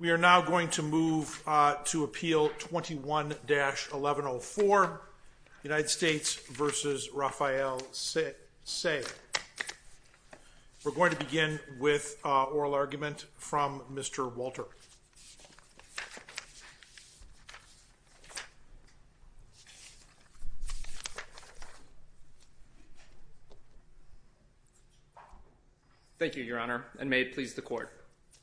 We are now going to move to appeal 21-1104, United States v. Rapheal Seay. We're going to begin with oral argument from Mr. Walter. Thank you, Your Honor, and may it please the Court.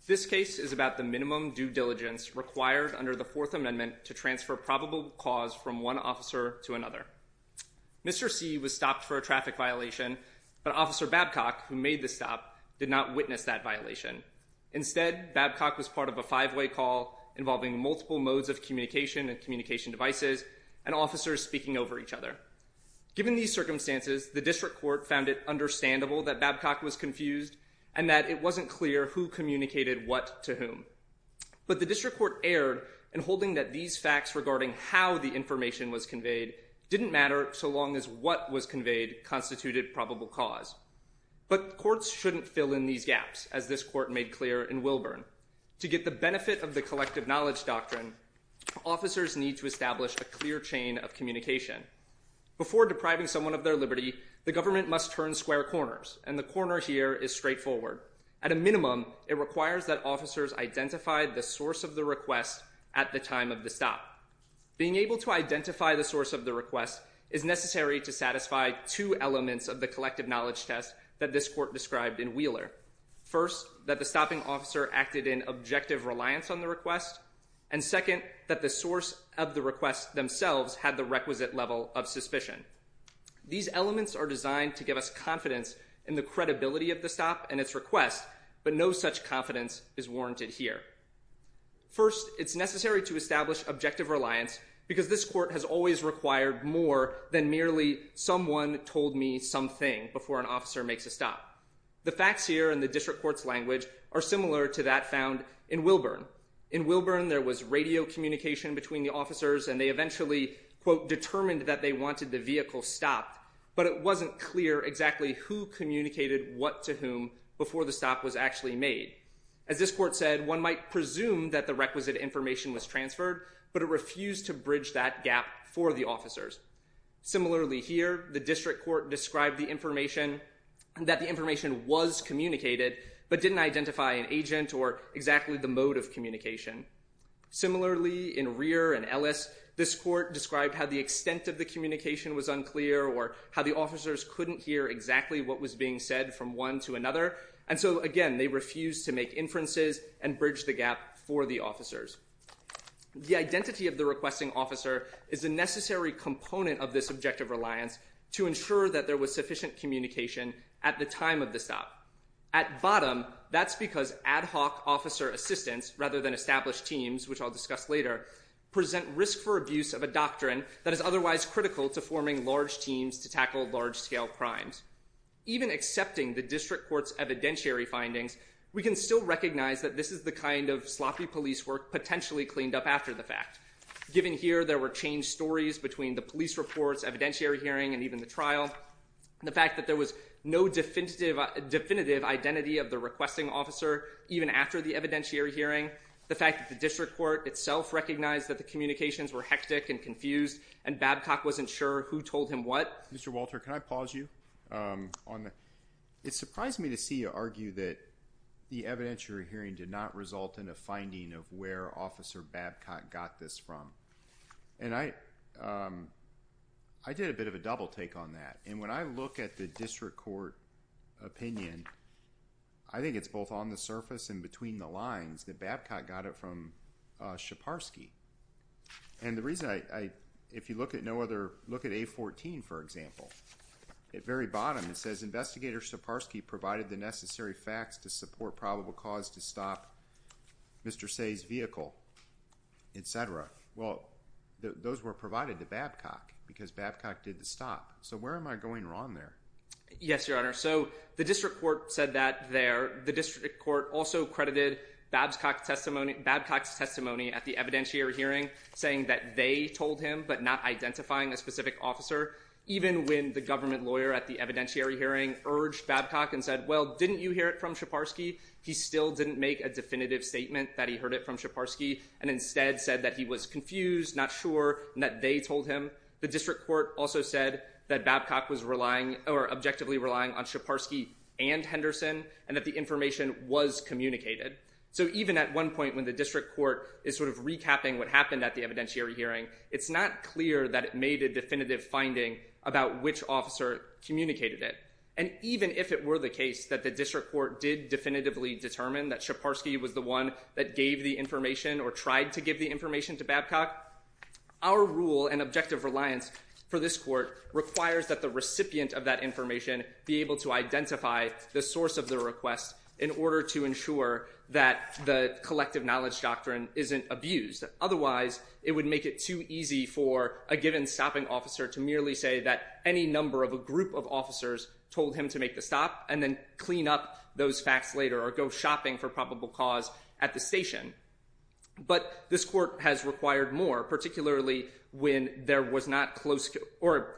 This case is about the minimum due diligence required under the Fourth Amendment to transfer probable cause from one officer to another. Mr. Seay was stopped for a traffic violation, but Officer Babcock, who made the stop, did not witness that violation. Instead, Babcock was part of a five-way call involving multiple modes of communication and communication devices and officers speaking over each other. Given these circumstances, the District Court found it understandable that Babcock was confused and that it wasn't clear who communicated what to whom. But the District Court erred in holding that these facts regarding how the information was conveyed didn't matter so long as what was conveyed constituted probable cause. But courts shouldn't fill in these gaps, as this Court made clear in Wilburn. To get the benefit of the collective knowledge doctrine, officers need to establish a clear chain of communication. Before depriving someone of their liberty, the government must turn square corners, and the corner here is straightforward. At a minimum, it requires that officers identify the source of the request at the time of the stop. Being able to identify the source of the request is necessary to satisfy two elements of the collective knowledge test that this Court described in Wheeler. First, that the stopping officer acted in objective reliance on the request. And second, that the source of the request themselves had the requisite level of suspicion. These elements are designed to give us confidence in the credibility of the stop and its request, but no such confidence is warranted here. First, it's necessary to establish objective reliance because this Court has always required more than merely someone told me something before an officer makes a stop. The facts here in the District Court's language are similar to that found in Wilburn. In Wilburn, there was radio communication between the officers, and they eventually, quote, determined that they wanted the vehicle stopped. But it wasn't clear exactly who communicated what to whom before the stop was actually made. As this Court said, one might presume that the requisite information was transferred, but it refused to bridge that gap for the officers. Similarly here, the District Court described that the information was communicated, but didn't identify an agent or exactly the mode of communication. Similarly, in Rear and Ellis, this Court described how the extent of the communication was unclear or how the officers couldn't hear exactly what was being said from one to another. And so, again, they refused to make inferences and bridge the gap for the officers. The identity of the requesting officer is a necessary component of this objective reliance to ensure that there was sufficient communication at the time of the stop. At bottom, that's because ad hoc officer assistance, rather than established teams, which I'll discuss later, present risk for abuse of a doctrine that is otherwise critical to forming large teams to tackle large-scale crimes. Even accepting the District Court's evidentiary findings, we can still recognize that this is the kind of sloppy police work potentially cleaned up after the fact. Given here, there were changed stories between the police reports, evidentiary hearing, and even the trial. The fact that there was no definitive identity of the requesting officer, even after the evidentiary hearing. The fact that the District Court itself recognized that the communications were hectic and confused, and Babcock wasn't sure who told him what. Mr. Walter, can I pause you? It surprised me to see you argue that the evidentiary hearing did not result in a finding of where Officer Babcock got this from. And I did a bit of a double-take on that. And when I look at the District Court opinion, I think it's both on the surface and between the lines that Babcock got it from Scheparsky. And the reason I – if you look at no other – look at A14, for example. At the very bottom, it says, Investigator Scheparsky provided the necessary facts to support probable cause to stop Mr. Say's vehicle, etc. Well, those were provided to Babcock because Babcock did the stop. So where am I going wrong there? Yes, Your Honor. So the District Court said that there. The District Court also credited Babcock's testimony at the evidentiary hearing, saying that they told him, but not identifying a specific officer. Even when the government lawyer at the evidentiary hearing urged Babcock and said, well, didn't you hear it from Scheparsky? He still didn't make a definitive statement that he heard it from Scheparsky, and instead said that he was confused, not sure, and that they told him. The District Court also said that Babcock was relying – or objectively relying on Scheparsky and Henderson, and that the information was communicated. So even at one point when the District Court is sort of recapping what happened at the evidentiary hearing, it's not clear that it made a definitive finding about which officer communicated it. And even if it were the case that the District Court did definitively determine that Scheparsky was the one that gave the information or tried to give the information to Babcock, our rule and objective reliance for this Court requires that the recipient of that information be able to identify the source of the request in order to ensure that the collective knowledge doctrine isn't abused. Otherwise, it would make it too easy for a given stopping officer to merely say that any number of a group of officers told him to make the stop and then clean up those facts later or go shopping for probable cause at the station. But this Court has required more, particularly when there was not close – or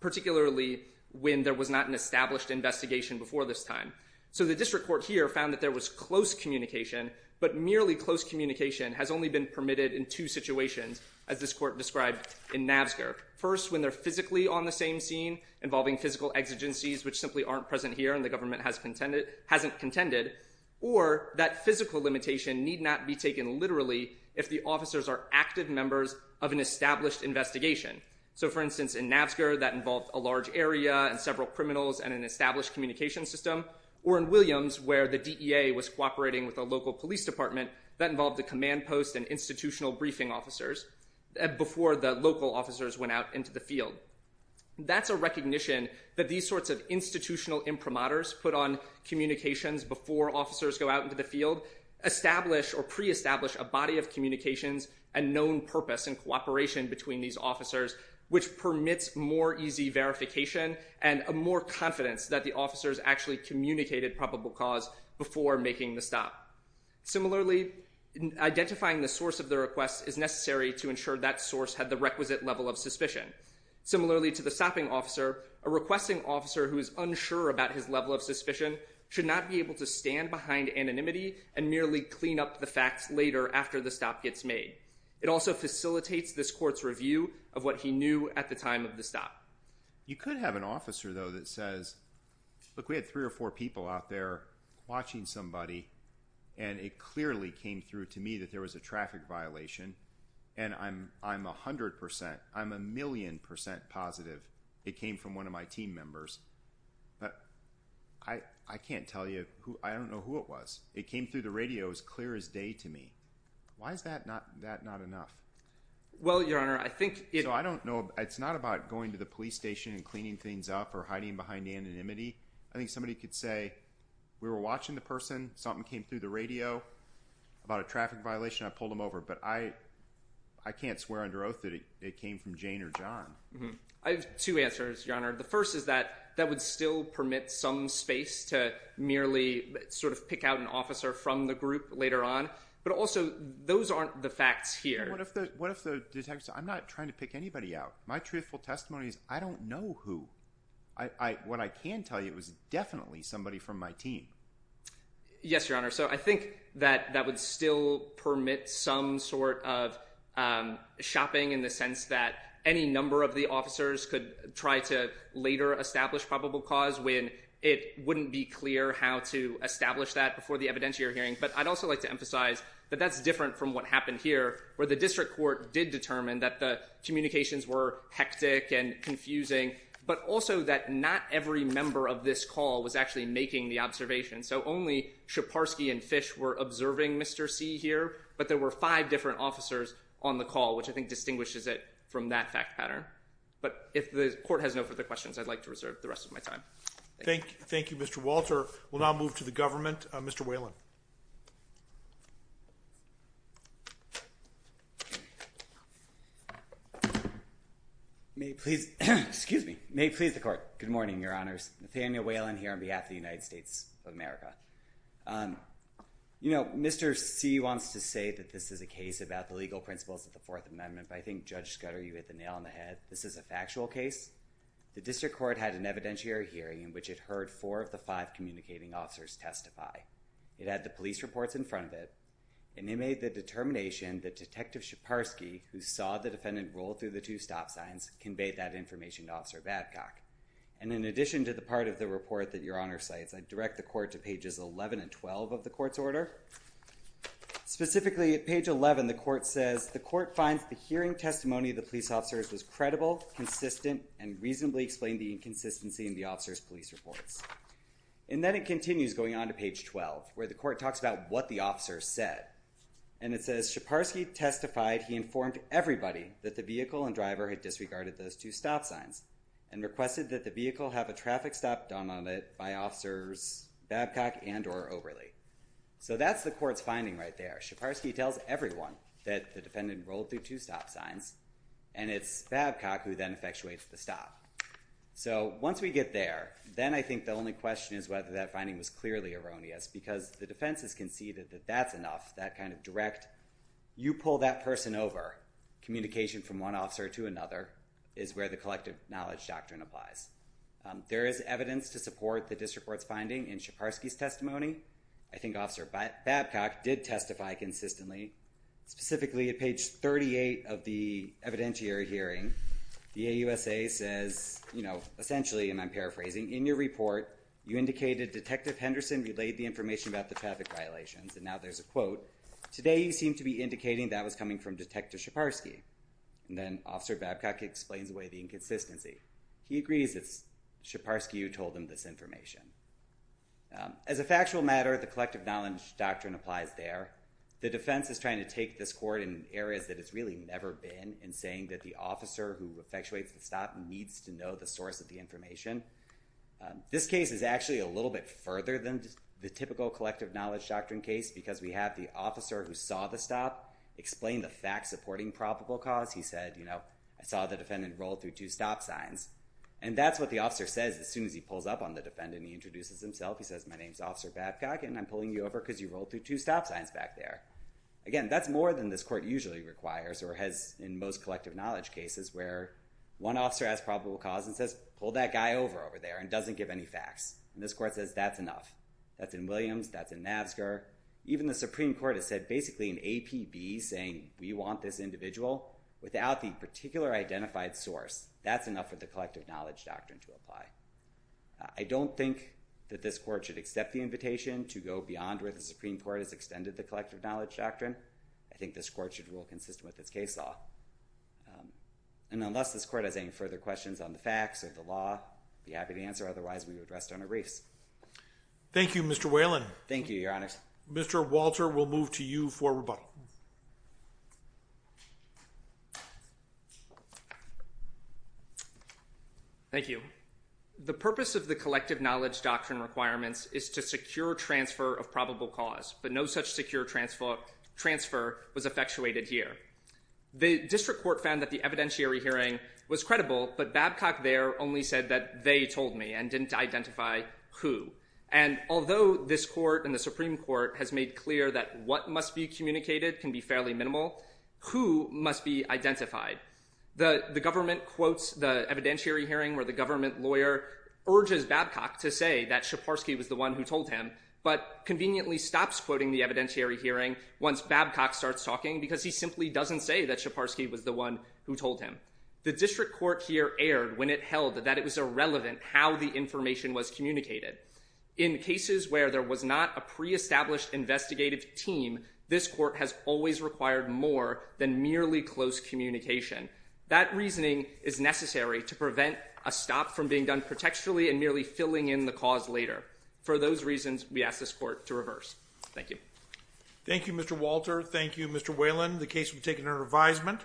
particularly when there was not an established investigation before this time. So the District Court here found that there was close communication, but merely close communication has only been permitted in two situations, as this Court described in Nabsger. First, when they're physically on the same scene, involving physical exigencies which simply aren't present here and the government hasn't contended. Or that physical limitation need not be taken literally if the officers are active members of an established investigation. So, for instance, in Nabsger, that involved a large area and several criminals and an established communication system. Or in Williams, where the DEA was cooperating with a local police department, that involved a command post and institutional briefing officers before the local officers went out into the field. That's a recognition that these sorts of institutional imprimatures put on communications before officers go out into the field establish or pre-establish a body of communications and known purpose and cooperation between these officers, which permits more easy verification and more confidence that the officers actually communicated probable cause before making the stop. Similarly, identifying the source of the request is necessary to ensure that source had the requisite level of suspicion. Similarly to the stopping officer, a requesting officer who is unsure about his level of suspicion should not be able to stand behind anonymity and merely clean up the facts later after the stop gets made. It also facilitates this court's review of what he knew at the time of the stop. You could have an officer, though, that says, look, we had three or four people out there watching somebody, and it clearly came through to me that there was a traffic violation. And I'm 100 percent, I'm a million percent positive it came from one of my team members. But I can't tell you, I don't know who it was. It came through the radio as clear as day to me. Why is that not enough? Well, Your Honor, I think… So I don't know, it's not about going to the police station and cleaning things up or hiding behind anonymity. I think somebody could say we were watching the person, something came through the radio about a traffic violation, I pulled them over. But I can't swear under oath that it came from Jane or John. I have two answers, Your Honor. The first is that that would still permit some space to merely sort of pick out an officer from the group later on. But also, those aren't the facts here. What if the detectives say, I'm not trying to pick anybody out. My truthful testimony is I don't know who. What I can tell you is it was definitely somebody from my team. Yes, Your Honor. So I think that that would still permit some sort of shopping in the sense that any number of the officers could try to later establish probable cause when it wouldn't be clear how to establish that before the evidentiary hearing. But I'd also like to emphasize that that's different from what happened here, where the district court did determine that the communications were hectic and confusing, but also that not every member of this call was actually making the observation. So only Scheparsky and Fish were observing Mr. C here, but there were five different officers on the call, which I think distinguishes it from that fact pattern. But if the court has no further questions, I'd like to reserve the rest of my time. Thank you, Mr. Walter. Mr. Whalen. Go ahead. May it please the court. Good morning, Your Honors. Nathaniel Whalen here on behalf of the United States of America. You know, Mr. C wants to say that this is a case about the legal principles of the Fourth Amendment, but I think Judge Scudder, you hit the nail on the head. This is a factual case. The district court had an evidentiary hearing in which it heard four of the five communicating officers testify. It had the police reports in front of it, and it made the determination that Detective Scheparsky, who saw the defendant roll through the two stop signs, conveyed that information to Officer Babcock. And in addition to the part of the report that Your Honor cites, I direct the court to pages 11 and 12 of the court's order. Specifically, at page 11, the court says, the court finds the hearing testimony of the police officers was credible, consistent, and reasonably explained the inconsistency in the officers' police reports. And then it continues going on to page 12, where the court talks about what the officers said. And it says, Scheparsky testified he informed everybody that the vehicle and driver had disregarded those two stop signs and requested that the vehicle have a traffic stop done on it by Officers Babcock and or Overley. So that's the court's finding right there. Scheparsky tells everyone that the defendant rolled through two stop signs, and it's Babcock who then effectuates the stop. So once we get there, then I think the only question is whether that finding was clearly erroneous because the defense has conceded that that's enough, that kind of direct, you pull that person over. Communication from one officer to another is where the collective knowledge doctrine applies. There is evidence to support the district court's finding in Scheparsky's testimony. I think Officer Babcock did testify consistently. Specifically, at page 38 of the evidentiary hearing, the AUSA says, you know, essentially, and I'm paraphrasing, in your report you indicated Detective Henderson relayed the information about the traffic violations. And now there's a quote. Today you seem to be indicating that was coming from Detective Scheparsky. And then Officer Babcock explains away the inconsistency. He agrees it's Scheparsky who told him this information. As a factual matter, the collective knowledge doctrine applies there. The defense is trying to take this court in areas that it's really never been in saying that the officer who effectuates the stop needs to know the source of the information. This case is actually a little bit further than the typical collective knowledge doctrine case because we have the officer who saw the stop explain the fact-supporting probable cause. He said, you know, I saw the defendant roll through two stop signs. And that's what the officer says as soon as he pulls up on the defendant and introduces himself. He says, my name's Officer Babcock, and I'm pulling you over because you rolled through two stop signs back there. Again, that's more than this court usually requires or has in most collective knowledge cases where one officer has probable cause and says, pull that guy over there and doesn't give any facts. And this court says that's enough. That's in Williams. That's in Navsgar. Even the Supreme Court has said basically an APB saying we want this individual. Without the particular identified source, that's enough for the collective knowledge doctrine to apply. I don't think that this court should accept the invitation to go beyond where the Supreme Court has extended the collective knowledge doctrine. I think this court should rule consistent with its case law. And unless this court has any further questions on the facts or the law, I'd be happy to answer. Otherwise, we would rest on our reefs. Thank you, Mr. Whalen. Thank you, Your Honors. Mr. Walter, we'll move to you for rebuttal. Thank you. The purpose of the collective knowledge doctrine requirements is to secure transfer of probable cause, but no such secure transfer was effectuated here. The district court found that the evidentiary hearing was credible, but Babcock there only said that they told me and didn't identify who. And although this court and the Supreme Court has made clear that what must be communicated can be fairly minimal, who must be identified? The government quotes the evidentiary hearing where the government lawyer urges Babcock to say that once Babcock starts talking because he simply doesn't say that Scheparsky was the one who told him. The district court here erred when it held that it was irrelevant how the information was communicated. In cases where there was not a pre-established investigative team, this court has always required more than merely close communication. That reasoning is necessary to prevent a stop from being done protecturally and merely filling in the cause later. For those reasons, we ask this court to reverse. Thank you. Thank you, Mr. Walter. Thank you, Mr. Whalen. The case will be taken under advisement.